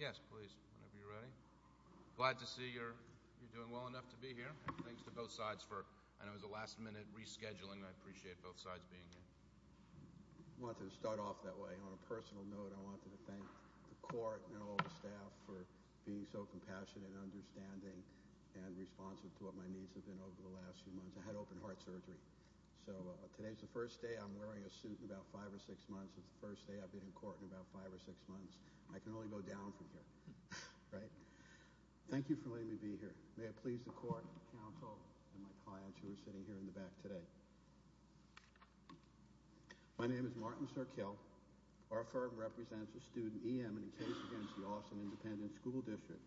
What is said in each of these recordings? Yes, please. Whenever you're ready. Glad to see you're doing well enough to be here. Thanks to both sides for, I know it was a last minute rescheduling. I appreciate both sides being here. I wanted to start off that way. On a personal note, I wanted to thank the court and all the staff for being so compassionate and understanding and responsive to what my needs have been over the last few months. I had open heart surgery. So, today's the first day I've been in court in about five or six months. I can only go down from here, right? Thank you for letting me be here. May it please the court, counsel, and my clients who are sitting here in the back today. My name is Martin Sirkill. Our firm represents a student E. M. in a case against the Austin Independent School District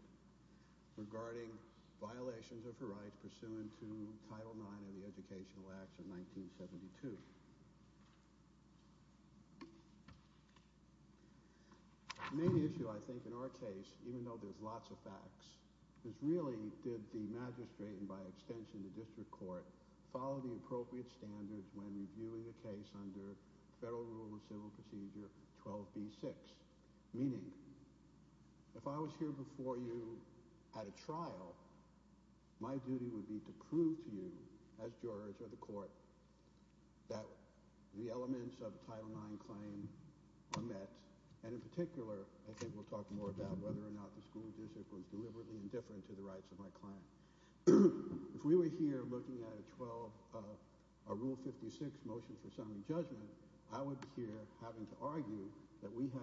regarding violations of her rights pursuant to Title IX of the Educational Acts of 1972. The main issue, I think, in our case, even though there's lots of facts, is really did the magistrate and by extension the district court follow the appropriate standards when reviewing a case under Federal Rule of Civil Procedure 12b-6? Meaning, if I was here before you at trial, my duty would be to prove to you, as jurors of the court, that the elements of Title IX claim are met, and in particular, I think we'll talk more about whether or not the school district was deliberately indifferent to the rights of my client. If we were here looking at a Rule 56 motion for summary judgment, I would be here having to argue that we had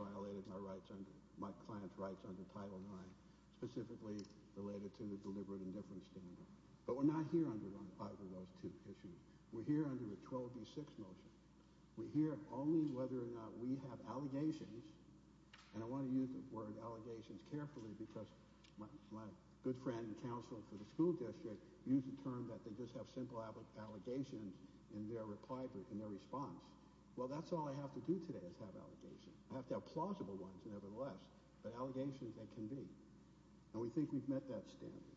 violated my client's rights under Title IX, specifically related to the deliberate indifference standard. But we're not here arguing those two issues. We're here under a 12b-6 motion. We're here only whether or not we have allegations, and I want to use the word allegations carefully because my good friend and counsel for the school district used the term that they just have simple allegations in their response. Well, that's all I have to do today is have simple allegations. I have to have plausible ones, nevertheless, but allegations they can be, and we think we've met that standard.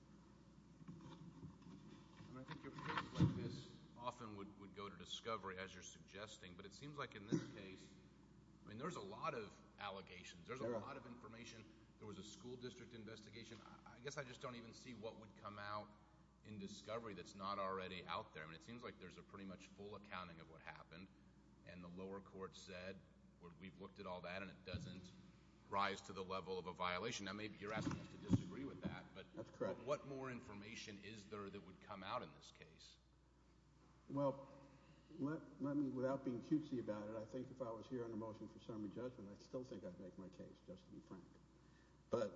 And I think your case like this often would go to discovery, as you're suggesting, but it seems like in this case, I mean, there's a lot of allegations. There's a lot of information. There was a school district investigation. I guess I just don't even see what would come out in discovery that's not already out there. I mean, it seems like there's a pretty much full accounting of what happened, and the lower court said, we've looked at all that, and it doesn't rise to the level of a violation. Now, maybe you're asking us to disagree with that, but what more information is there that would come out in this case? Well, let me, without being cutesy about it, I think if I was here under motion for summary judgment, I still think I'd make my case, just to be frank. But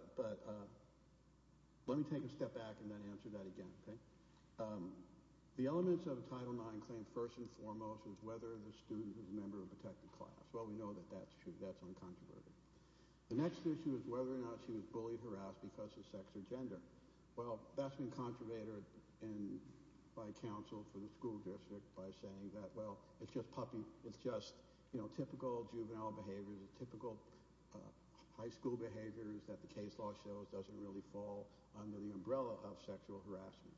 let me take a step back and then answer that again, okay? The elements of a Title IX claim, first and foremost, was whether the student was a member of a protected class. Well, we know that that's true. That's uncontroverted. The next issue is whether or not she was bullied, harassed because of sex or gender. Well, that's been contrived by counsel for the school district by saying that, well, it's just typical juvenile behavior, typical high school behavior that the case law shows doesn't really fall under the umbrella of sexual harassment.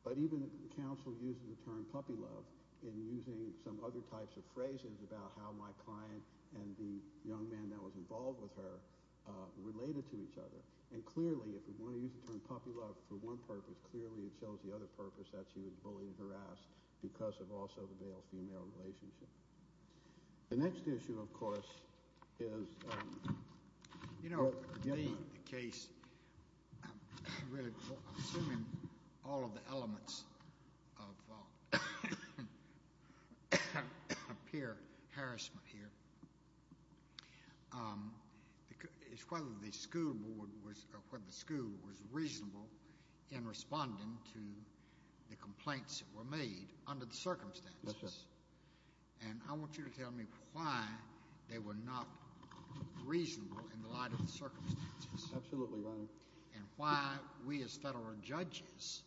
But even counsel uses the term puppy love in using some other types of phrases about how my client and the young man that was involved with her related to each other. And clearly, if we want to use the term puppy love for one purpose, clearly it shows the other purpose that she was bullied and harassed because of also the male-female relationship. The next issue, of course, is... You know, in the case, really, assuming all of the elements of peer harassment here, it's whether the school board was, or whether the school was reasonable in responding to the and I want you to tell me why they were not reasonable in the light of the circumstances. Absolutely, Your Honor. And why we as federal judges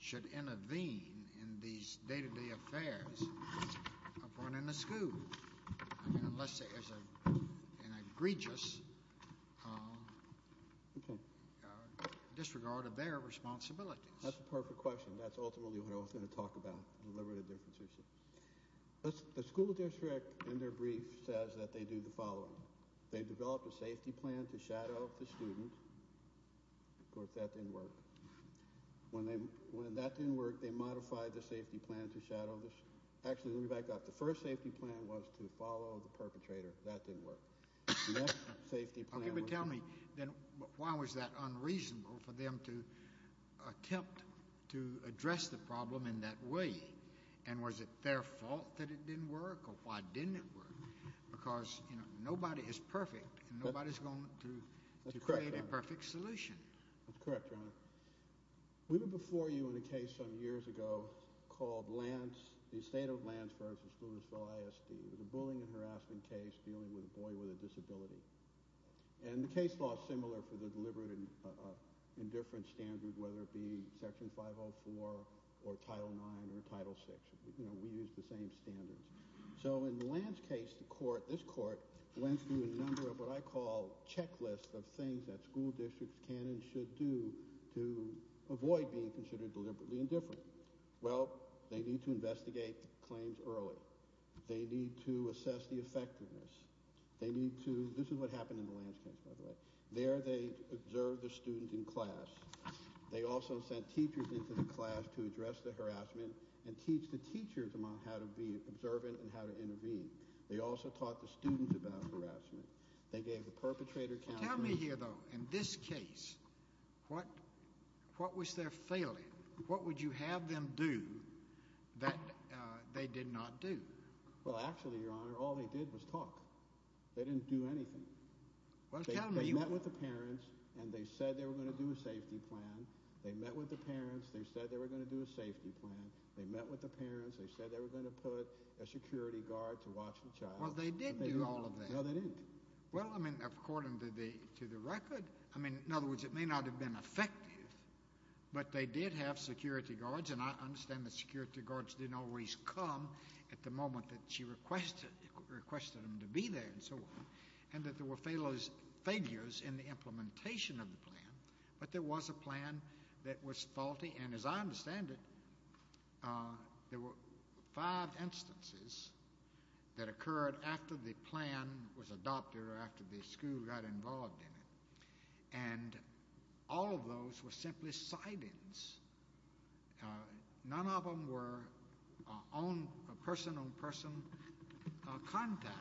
should intervene in these day-to-day affairs of one in the school. I mean, unless there's an egregious disregard of their responsibilities. That's a perfect question. That's ultimately what I was going to talk about, the deliberative differentiation. The school district, in their brief, says that they do the following. They developed a safety plan to shadow the student. Of course, that didn't work. When that didn't work, they modified the safety plan to shadow the student. Actually, let me back up. The first safety plan was to follow the perpetrator. That didn't work. The next safety plan... Then why was that unreasonable for them to attempt to address the problem in that way? And was it their fault that it didn't work, or why didn't it work? Because, you know, nobody is perfect, and nobody's going to create a perfect solution. That's correct, Your Honor. We were before you in a case some years ago called Lance, versus Lewisville ISD. It was a bullying and harassment case dealing with a boy with a disability. And the case law is similar for the deliberate indifference standard, whether it be Section 504 or Title IX or Title VI. You know, we use the same standards. So in Lance's case, the court, this court, went through a number of what I call checklists of things that school districts can and should do to avoid being considered deliberately indifferent. Well, they need to investigate claims early. They need to assess the effectiveness. They need to... This is what happened in the Lance case, by the way. There, they observed the student in class. They also sent teachers into the class to address the harassment and teach the teachers how to be observant and how to intervene. They also taught the students about harassment. They gave the perpetrator counsel... Tell me here, though, in this case, what was their failing? What would you have them do that they did not do? Well, actually, Your Honor, all they did was talk. They didn't do anything. Well, tell me... They met with the parents, and they said they were going to do a safety plan. They met with the parents. They said they were going to do a safety plan. They met with the parents. They said they were going to put a security guard to watch the child. Well, they did do all of that. No, they didn't. Well, I mean, according to the record... I mean, in other words, it may not have been effective, but they did have security guards, and I understand the security guards didn't always come at the moment that she requested them to be there and so on, and that there were failures in the implementation of the plan, but there was a plan that was faulty, and as I understand it, there were five instances that occurred after the plan was adopted or after the school got involved in it, and all of those were simply sightings. None of them were person-on-person contact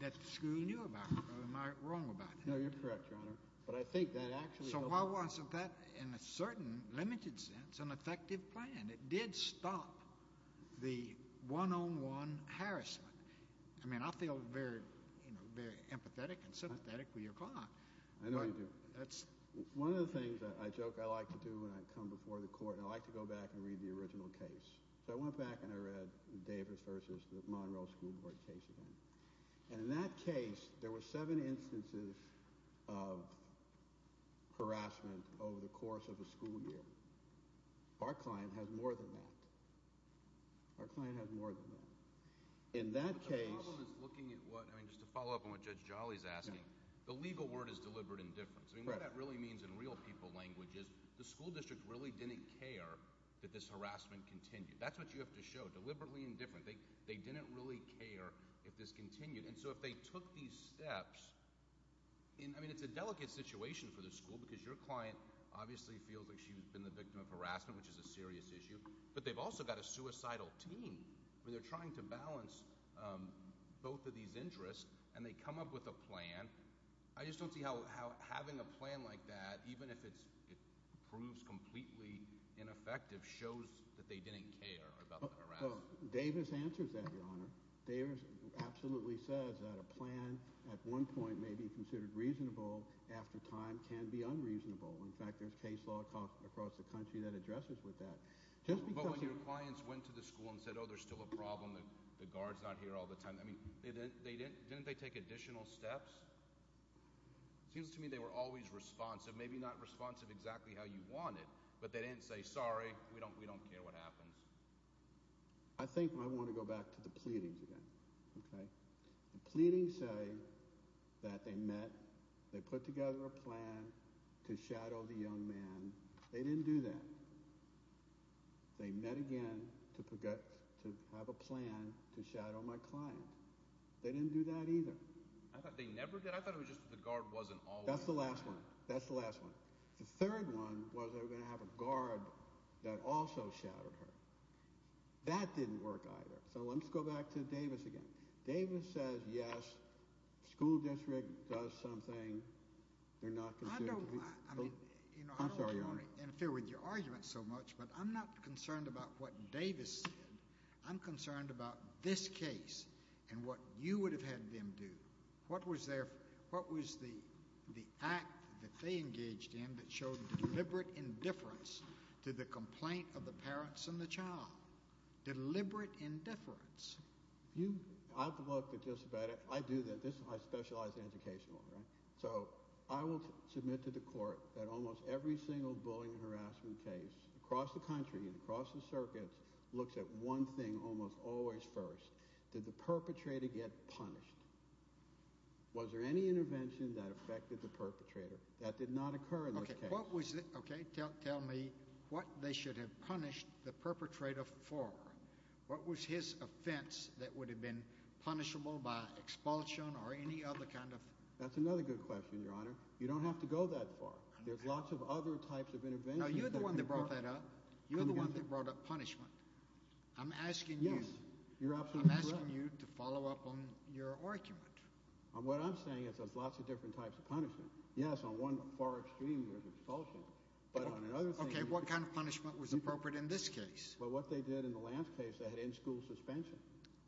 that the school knew about. Am I wrong about that? No, you're correct, Your Honor, but I think that actually... So why wasn't that, in a certain limited sense, an effective plan? It did stop the one-on-one harassment. I mean, I feel very, you know, very empathetic and sympathetic for your client. I know you do. But that's... One of the things I joke I like to do when I come before the court, I like to go back and read the original case. So I went back and I read Davis versus the Monroe School Board case again, and in that case, there were seven instances of harassment over the course of a school year. Our client has more than that. Our client has more than that. In that case... But the problem is looking at what, I mean, just to follow up on what Judge Jolly's asking, the legal word is deliberate indifference. I mean, what that really means in real people language is the school district really didn't care that this harassment continued. That's what you have to show, deliberately indifferent. They didn't really care if this continued. And so if they took these steps... I mean, it's a delicate situation for the school because your client obviously feels like she's been the victim of harassment, which is a serious issue, but they've also got a suicidal team where they're trying to balance both of these interests, and they come up with a plan. I just don't see how having a plan like that, even if it proves completely ineffective, shows that they didn't care about the harassment. Davis answers that, Your Honor. Davis absolutely says that a plan at one point may be considered reasonable, after time can be unreasonable. In fact, there's case law across the country that addresses with that. But when your clients went to the school and said, oh, there's still a problem, the guard's not here all the time, I mean, didn't they take additional steps? It seems to me they were always responsive, maybe not responsive exactly how you wanted, but they didn't say, sorry, we don't care what happens. I think I want to go back to the pleadings again. The pleadings say that they met, they put together a plan to shadow the young man. They didn't do that. They met again to have a plan to shadow my client. They didn't do that either. I thought they never did. I thought it was just that the guard wasn't always there. That's the last one. That's the last one. The third one was they were going to have a guard that also shadowed her. That didn't work either. So let's go back to Davis again. Davis says, yes, school district does something, they're not considered to be. I don't want to interfere with your argument so much, but I'm not concerned about what What was the act that they engaged in that showed deliberate indifference to the complaint of the parents and the child? Deliberate indifference. I have to look at just about it. I specialize in educational. So I will submit to the court that almost every single bullying and harassment case across the country and across the circuits looks at one thing almost always first. Did the perpetrator get punished? Was there any intervention that affected the perpetrator? That did not occur in this case. Tell me what they should have punished the perpetrator for. What was his offense that would have been punishable by expulsion or any other kind of That's another good question, Your Honor. You don't have to go that far. There's lots of other types of intervention. You're the one that brought that up. You're the one that brought up punishment. I'm asking you to follow up on your argument. What I'm saying is there's lots of different types of punishment. Yes, on one far extreme was expulsion, but on another thing. Okay, what kind of punishment was appropriate in this case? Well, what they did in the Lance case, they had in-school suspension.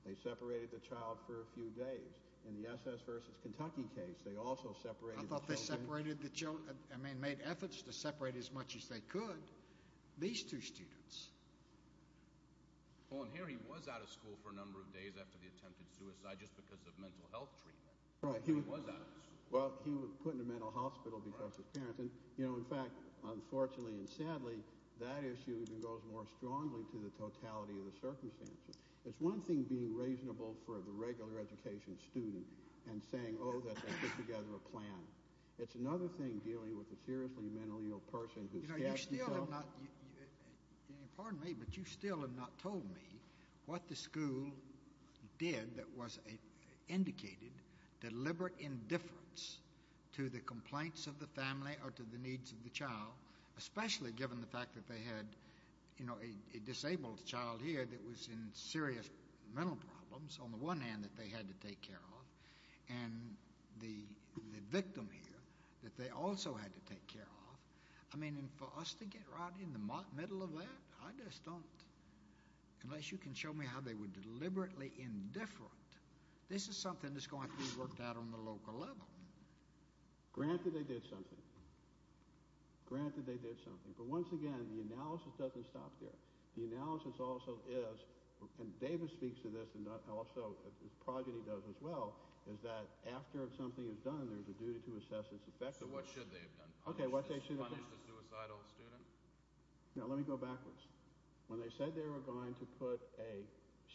They separated the child for a few days. In the SS versus Kentucky case, they also separated I thought they separated the child. I mean, made efforts to separate as much as they could these two students. Well, and here he was out of school for a number of days after the attempted suicide just because of mental health treatment. He was out of school. Well, he was put in a mental hospital because of parenting. In fact, unfortunately and sadly, that issue even goes more strongly to the totality of the circumstances. It's one thing being reasonable for the regular education student and saying, oh, that they put together a plan. It's another thing dealing with a seriously mentally ill person who's You know, you still have not, pardon me, but you still have not told me what the school did that was indicated deliberate indifference to the complaints of the family or to the needs of the child, especially given the fact that they had, you know, a disabled child here that was in serious mental problems on the one hand that they had to take care of and the victim here that they also had to take care of. I mean, and for us to get right in the middle of that, I just don't. Unless you can show me how they were deliberately indifferent. This is something that's going to be worked out on the local level. Granted they did something. Granted they did something. But once again, the analysis doesn't stop there. The analysis also is, and Davis speaks to this and also Progeny does as well, is that after something is done, there's a duty to assess its effectiveness. So what should they have done? Punish the suicidal student? Now let me go backwards. When they said they were going to put a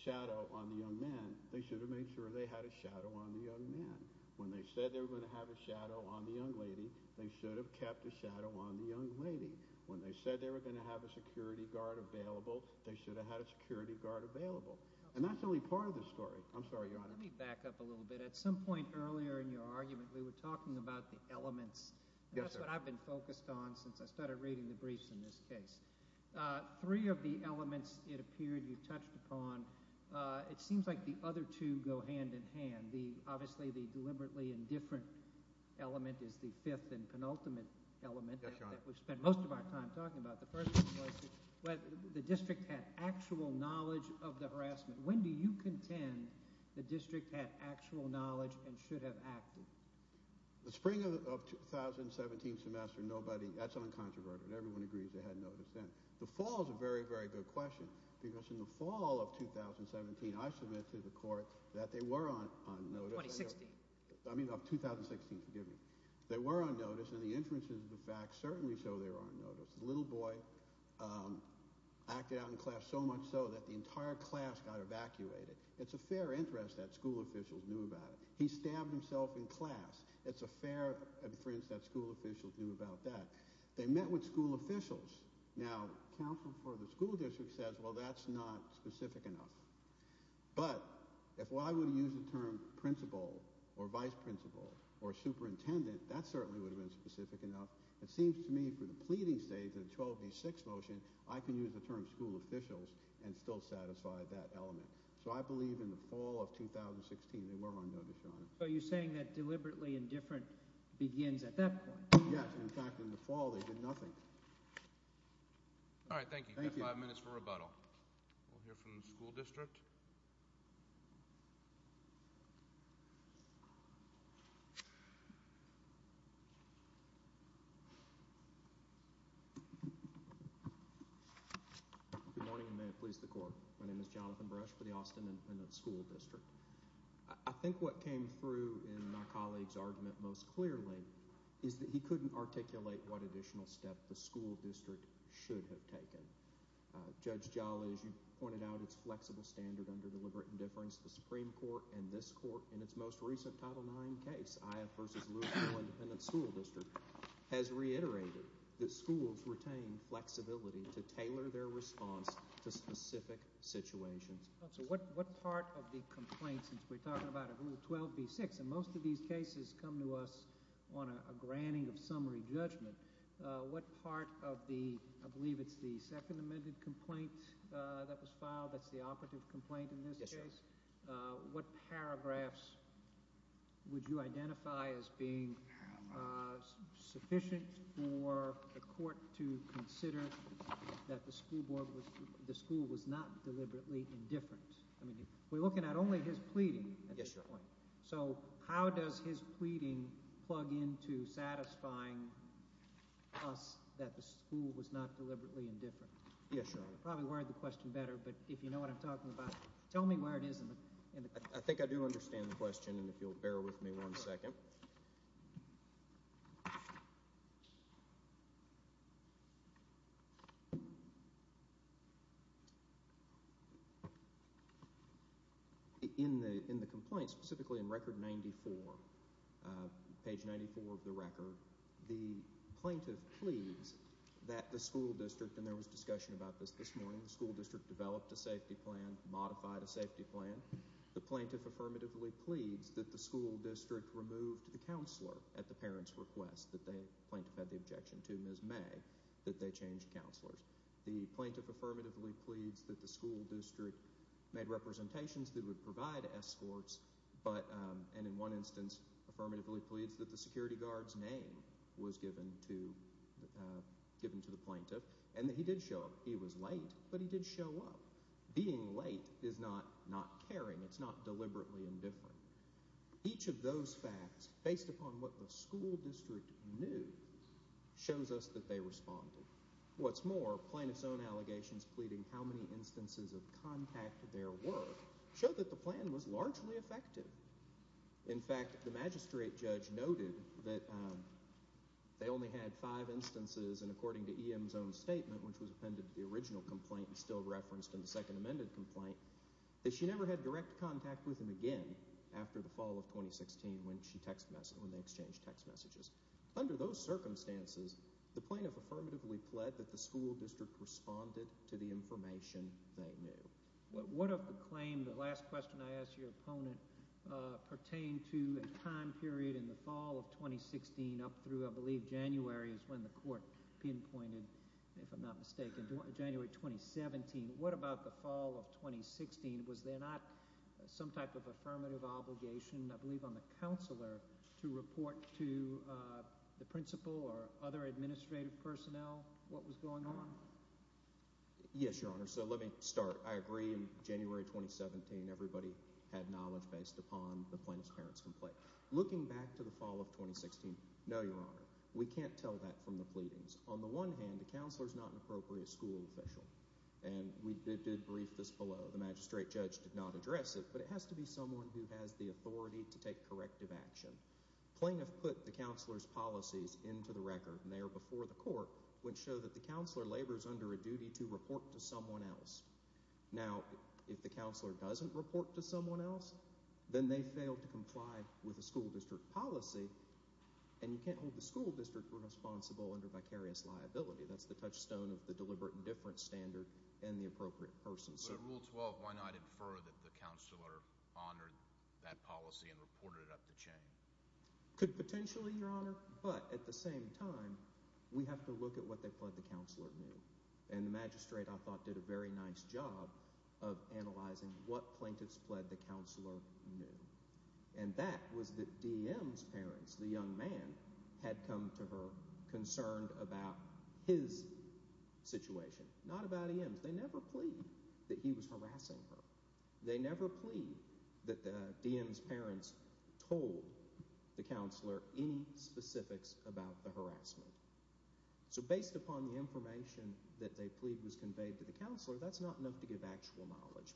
shadow on the young man, they should have made sure they had a shadow on the young man. When they said they were going to have a shadow on the young lady, they should have kept a shadow on the young lady. When they said they were going to have a security guard available, they should have had a security guard available. And that's only part of the story. I'm sorry, Your Honor. Let me back up a little bit. At some point earlier in your argument we were talking about the elements. That's what I've been focused on since I started reading the briefs in this case. Three of the elements it appeared you touched upon, it seems like the other two go hand in hand. Obviously the deliberately indifferent element is the fifth and penultimate element. Yes, Your Honor. That we've spent most of our time talking about. The first one was whether the district had actual knowledge of the harassment. When do you contend the district had actual knowledge and should have acted? The spring of 2017 semester nobody – that's uncontroverted. Everyone agrees they had notice then. The fall is a very, very good question because in the fall of 2017 I submitted to the court that they were on notice. 2016. I mean of 2016, forgive me. They were on notice and the inferences of the facts certainly show they were on notice. The little boy acted out in class so much so that the entire class got evacuated. It's a fair interest that school officials knew about it. He stabbed himself in class. It's a fair inference that school officials knew about that. They met with school officials. Now counsel for the school district says, well, that's not specific enough. But if I were to use the term principal or vice principal or superintendent, that certainly would have been specific enough. It seems to me for the pleading states in the 12B6 motion, I can use the term school officials and still satisfy that element. So I believe in the fall of 2016 they were on notice, Your Honor. So you're saying that deliberately indifferent begins at that point? Yes. In fact, in the fall they did nothing. All right. Thank you. You've got five minutes for rebuttal. We'll hear from the school district. Good morning and may it please the Court. My name is Jonathan Bresch for the Austin Independent School District. I think what came through in my colleague's argument most clearly is that he couldn't articulate what additional step the school district should have taken. Judge Jolly, as you pointed out, it's flexible standard under deliberate indifference. The Supreme Court and this court in its most recent Title IX case, Ioffe v. Louisville Independent School District, has reiterated that schools retain flexibility to tailor their response to specific situations. So what part of the complaint since we're talking about a Rule 12B6, and most of these cases come to us on a granting of summary judgment, what part of the, I believe it's the second amended complaint that was filed, that's the operative complaint in this case, what paragraphs would you identify as being sufficient for the court to consider that the school was not deliberately indifferent? We're looking at only his pleading at this point. So how does his pleading plug into satisfying us that the school was not deliberately indifferent? Yes, Your Honor. I could probably word the question better, but if you know what I'm talking about, tell me where it is in the complaint. I think I do understand the question, and if you'll bear with me one second. Okay. In the complaint, specifically in Record 94, page 94 of the record, the plaintiff pleads that the school district, and there was discussion about this this morning, the school district developed a safety plan, modified a safety plan. The plaintiff affirmatively pleads that the school district removed the counselor at the parent's request, that the plaintiff had the objection to Ms. May, that they changed counselors. The plaintiff affirmatively pleads that the school district made representations that would provide escorts, and in one instance, affirmatively pleads that the security guard's name was given to the plaintiff, and that he did show up. He was late, but he did show up. Being late is not caring. It's not deliberately indifferent. Each of those facts, based upon what the school district knew, shows us that they responded. What's more, plaintiff's own allegations pleading how many instances of contact there were showed that the plan was largely effective. In fact, the magistrate judge noted that they only had five instances, and according to EM's own statement, which was appended to the original complaint and still referenced in the second amended complaint, that she never had direct contact with him again after the fall of 2016 when they exchanged text messages. Under those circumstances, the plaintiff affirmatively pled that the school district responded to the information they knew. What of the claim, the last question I asked your opponent, pertained to a time period in the fall of 2016 up through, I believe, January is when the court pinpointed, if I'm not mistaken, January 2017. What about the fall of 2016? Was there not some type of affirmative obligation, I believe on the counselor, to report to the principal or other administrative personnel what was going on? Yes, Your Honor, so let me start. I agree in January 2017 everybody had knowledge based upon the plaintiff's parent's complaint. Looking back to the fall of 2016, no, Your Honor. We can't tell that from the pleadings. On the one hand, the counselor is not an appropriate school official, and we did brief this below. The magistrate judge did not address it, but it has to be someone who has the authority to take corrective action. The plaintiff put the counselor's policies into the record, and they are before the court, which show that the counselor labors under a duty to report to someone else. Now, if the counselor doesn't report to someone else, then they fail to comply with the school district policy, and you can't hold the school district responsible under vicarious liability. That's the touchstone of the deliberate indifference standard and the appropriate person. But at Rule 12, why not infer that the counselor honored that policy and reported it up the chain? Could potentially, Your Honor, but at the same time, we have to look at what they pled the counselor knew. And the magistrate, I thought, did a very nice job of analyzing what plaintiffs pled the counselor knew. And that was that DM's parents, the young man, had come to her concerned about his situation, not about EM's. They never pled that he was harassing her. They never pled that DM's parents told the counselor any specifics about the harassment. So based upon the information that they pled was conveyed to the counselor, that's not enough to give actual knowledge.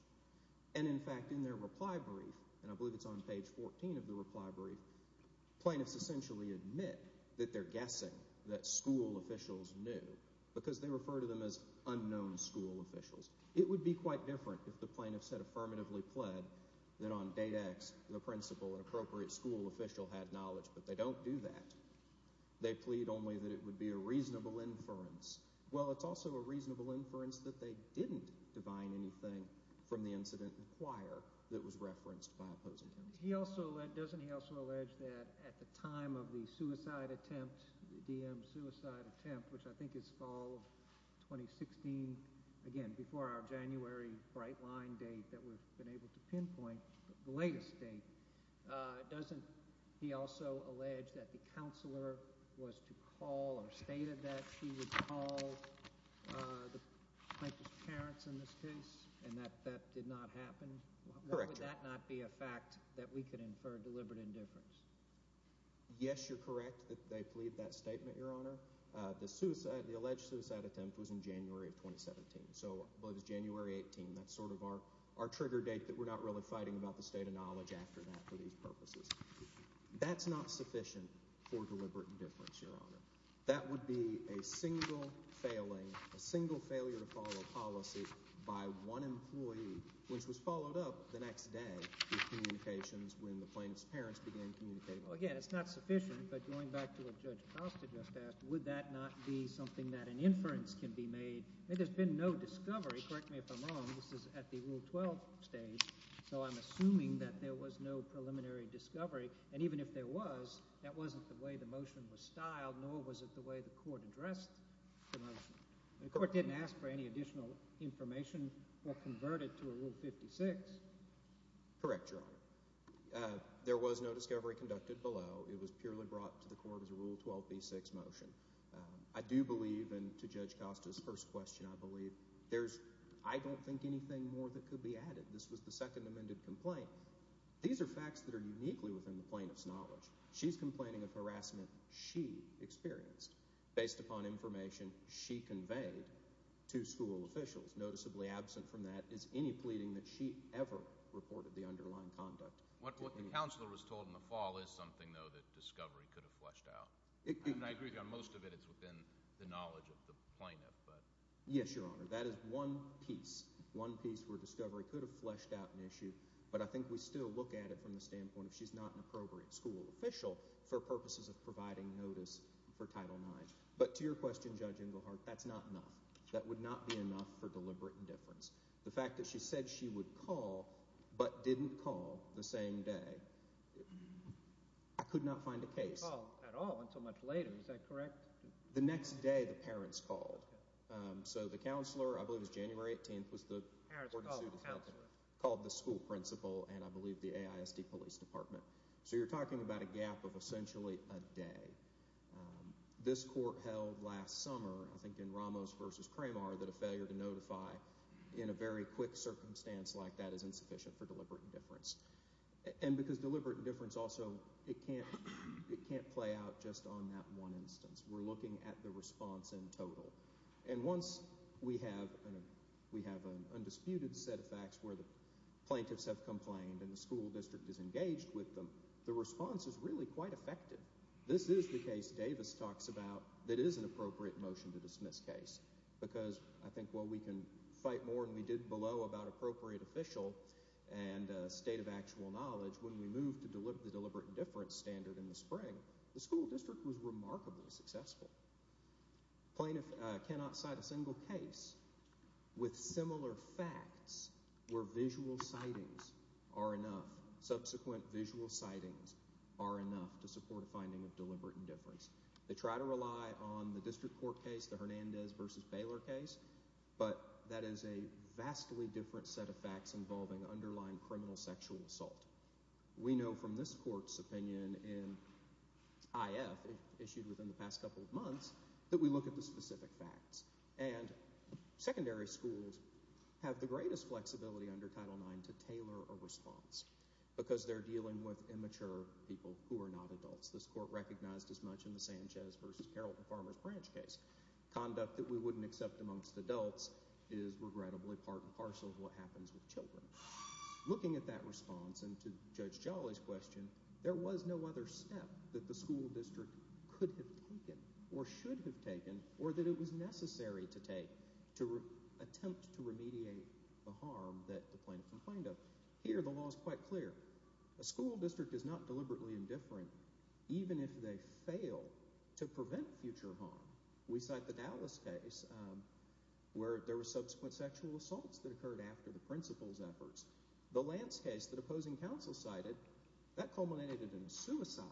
And, in fact, in their reply brief, and I believe it's on page 14 of the reply brief, plaintiffs essentially admit that they're guessing that school officials knew because they refer to them as unknown school officials. It would be quite different if the plaintiffs had affirmatively pled that on date X the principal and appropriate school official had knowledge, but they don't do that. They plead only that it would be a reasonable inference. Well, it's also a reasonable inference that they didn't divine anything from the incident in the choir that was referenced by opposing counsel. Doesn't he also allege that at the time of the suicide attempt, the DM's suicide attempt, which I think is fall of 2016, again before our January bright line date that we've been able to pinpoint, the latest date, doesn't he also allege that the counselor was to call or stated that she would call the plaintiff's parents in this case and that that did not happen? Correct. Would that not be a fact that we could infer deliberate indifference? Yes, you're correct that they plead that statement, Your Honor. The alleged suicide attempt was in January of 2017, so I believe it was January 18. That's sort of our trigger date that we're not really fighting about the state of knowledge after that for these purposes. That's not sufficient for deliberate indifference, Your Honor. That would be a single failing, a single failure to follow a policy by one employee, which was followed up the next day with communications when the plaintiff's parents began communicating. Again, it's not sufficient, but going back to what Judge Costa just asked, would that not be something that an inference can be made? There's been no discovery. Correct me if I'm wrong. This is at the Rule 12 stage, so I'm assuming that there was no preliminary discovery, and even if there was, that wasn't the way the motion was styled, nor was it the way the court addressed the motion. The court didn't ask for any additional information or convert it to a Rule 56. Correct, Your Honor. There was no discovery conducted below. It was purely brought to the court as a Rule 12b-6 motion. I do believe, and to Judge Costa's first question, I believe, I don't think anything more that could be added. This was the second amended complaint. These are facts that are uniquely within the plaintiff's knowledge. She's complaining of harassment she experienced based upon information she conveyed to school officials. Noticeably absent from that is any pleading that she ever reported the underlying conduct. What the counselor was told in the fall is something, though, that discovery could have fleshed out. I agree with you on most of it. It's within the knowledge of the plaintiff. Yes, Your Honor, that is one piece, one piece where discovery could have fleshed out an issue, but I think we still look at it from the standpoint of she's not an appropriate school official for purposes of providing notice for Title IX. But to your question, Judge Ingleheart, that's not enough. That would not be enough for deliberate indifference. The fact that she said she would call but didn't call the same day, I could not find a case. She didn't call at all until much later. Is that correct? The next day the parents called. So the counselor, I believe it was January 18th, was the court-sued defendant. Called the school principal and, I believe, the AISD Police Department. So you're talking about a gap of essentially a day. This court held last summer, I think in Ramos v. Cramar, that a failure to notify in a very quick circumstance like that is insufficient for deliberate indifference. And because deliberate indifference also, it can't play out just on that one instance. We're looking at the response in total. And once we have an undisputed set of facts where the plaintiffs have complained and the school district is engaged with them, the response is really quite effective. This is the case Davis talks about that is an appropriate motion to dismiss case because I think while we can fight more than we did below about appropriate official and state of actual knowledge, when we move to the deliberate indifference standard in the spring, the school district was remarkably successful. Plaintiffs cannot cite a single case with similar facts where visual sightings are enough. Subsequent visual sightings are enough to support a finding of deliberate indifference. They try to rely on the district court case, the Hernandez v. Baylor case, but that is a vastly different set of facts involving underlying criminal sexual assault. We know from this court's opinion in IF, issued within the past couple of months, that we look at the specific facts. And secondary schools have the greatest flexibility under Title IX to tailor a response because they're dealing with immature people who are not adults. This court recognized as much in the Sanchez v. Carrollton Farmers Branch case. Conduct that we wouldn't accept amongst adults is regrettably part and parcel of what happens with children. Looking at that response and to Judge Jolly's question, there was no other step that the school district could have taken or should have taken or that it was necessary to take to attempt to remediate the harm that the plaintiff complained of. Here, the law is quite clear. A school district is not deliberately indifferent even if they fail to prevent future harm. We cite the Dallas case where there were subsequent sexual assaults that occurred after the principal's efforts. The Lance case that opposing counsel cited, that culminated in suicide.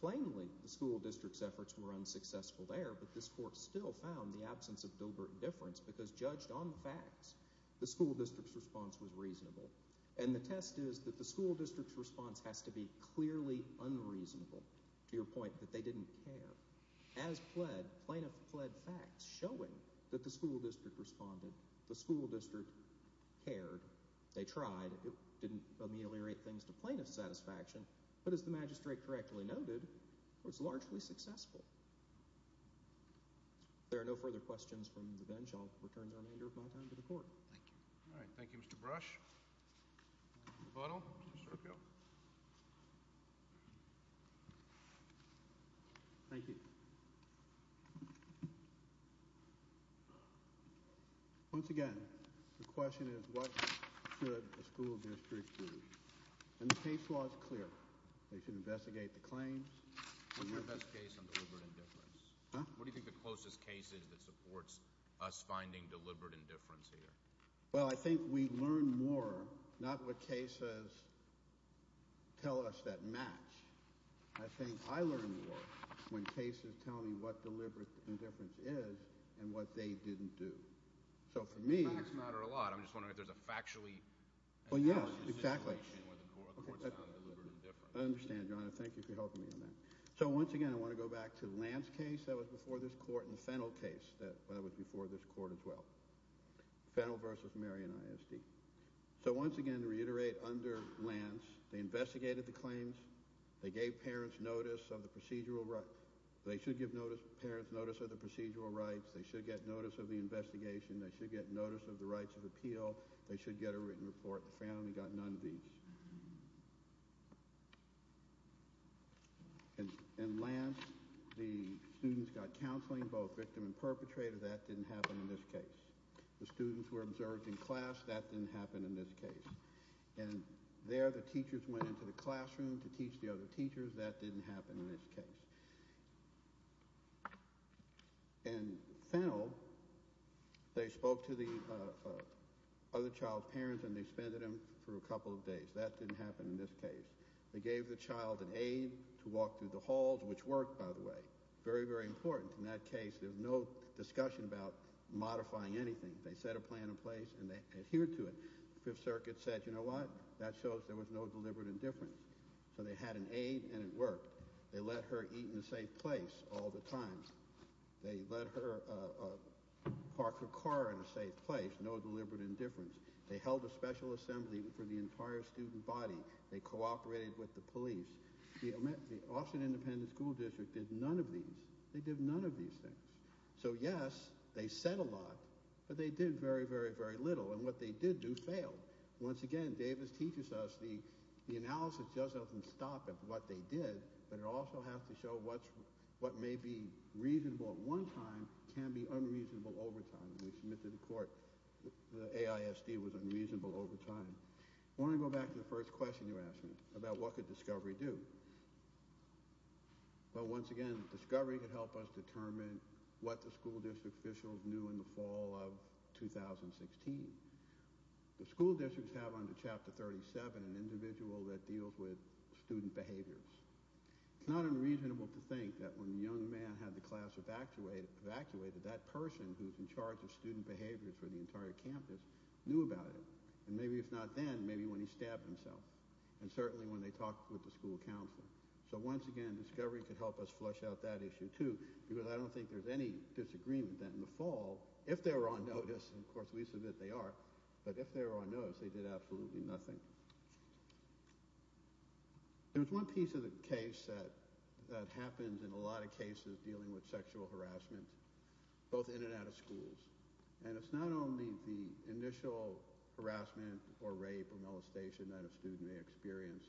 Plainly, the school district's efforts were unsuccessful there, but this court still found the absence of deliberate indifference because judged on the facts, the school district's response was reasonable. And the test is that the school district's response has to be clearly unreasonable, to your point that they didn't care. As pled, plaintiff pled facts showing that the school district responded, the school district cared, they tried, it didn't ameliorate things to plaintiff's satisfaction, but as the magistrate correctly noted, it was largely successful. If there are no further questions from the bench, I'll return the remainder of my time to the court. Thank you. All right, thank you, Mr. Brush. Mr. Butler, Mr. O'Neill. Thank you. Once again, the question is what should the school district do? And the case law is clear. They should investigate the claims. What's your best case on deliberate indifference? What do you think the closest case is that supports us finding deliberate indifference here? Well, I think we learn more, not what cases tell us that match. I think I learn more when cases tell me what deliberate indifference is and what they didn't do. Facts matter a lot. I'm just wondering if there's a factually... Well, yes, exactly. I understand, Your Honor. Thank you for helping me on that. So once again, I want to go back to Lance's case that was before this court and Fennell's case that was before this court as well, Fennell v. Marion ISD. So once again, to reiterate, under Lance, they investigated the claims, they gave parents notice of the procedural rights. They should give parents notice of the procedural rights. They should get notice of the investigation. They should get notice of the rights of appeal. They should get a written report. The family got none of these. And Lance, the students got counseling, both victim and perpetrator. That didn't happen in this case. The students were observed in class. That didn't happen in this case. And there, the teachers went into the classroom to teach the other teachers. That didn't happen in this case. And Fennell, they spoke to the other child's parents and they suspended him for a couple of days. That didn't happen in this case. They gave the child an aid to walk through the halls, which worked, by the way. Very, very important. In that case, there was no discussion about modifying anything. They set a plan in place and they adhered to it. The Fifth Circuit said, you know what? That shows there was no deliberate indifference. So they had an aid and it worked. They let her eat in a safe place all the time. They let her park her car in a safe place. No deliberate indifference. They held a special assembly for the entire student body. They cooperated with the police. The Austin Independent School District did none of these. They did none of these things. So yes, they said a lot, but they did very, very, very little. And what they did do failed. Once again, Davis teaches us the analysis just doesn't stop at what they did, but it also has to show what may be reasonable at one time can be unreasonable over time. We submit to the court the AISD was unreasonable over time. I want to go back to the first question you asked me about what could discovery do. Well, once again, discovery can help us determine what the school district officials knew in the fall of 2016. The school districts have under Chapter 37 an individual that deals with student behaviors. It's not unreasonable to think that when a young man had the class evacuated, that person who's in charge of student behaviors for the entire campus knew about it. And maybe if not then, maybe when he stabbed himself and certainly when they talked with the school counselor. So once again, discovery could help us flush out that issue too because I don't think there's any disagreement that in the fall, if they were on notice, and of course we submit they are, but if they were on notice, they did absolutely nothing. There's one piece of the case that happens in a lot of cases dealing with sexual harassment, both in and out of schools. And it's not only the initial harassment or rape or molestation that a student may experience,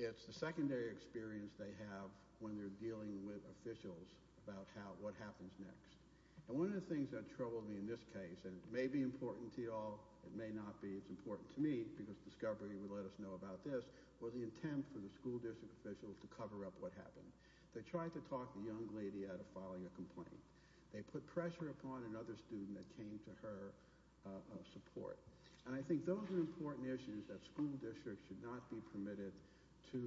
it's the secondary experience they have when they're dealing with officials about what happens next. And one of the things that troubled me in this case, and it may be important to you all, it may not be, it's important to me because Discovery would let us know about this, was the intent for the school district officials to cover up what happened. They tried to talk the young lady out of filing a complaint. They put pressure upon another student that came to her support. And I think those are important issues that school districts should not be permitted to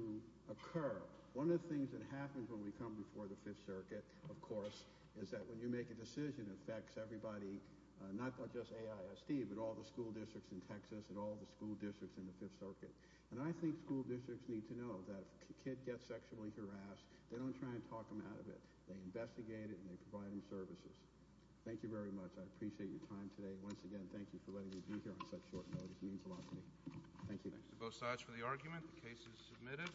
occur. One of the things that happens when we come before the Fifth Circuit, of course, is that when you make a decision, the decision affects everybody, not just AISD, but all the school districts in Texas and all the school districts in the Fifth Circuit. And I think school districts need to know that if a kid gets sexually harassed, they don't try and talk them out of it. They investigate it and they provide them services. Thank you very much. I appreciate your time today. Once again, thank you for letting me be here on such short notice. It means a lot to me. Thank you. Thanks to both sides for the argument. The case is submitted.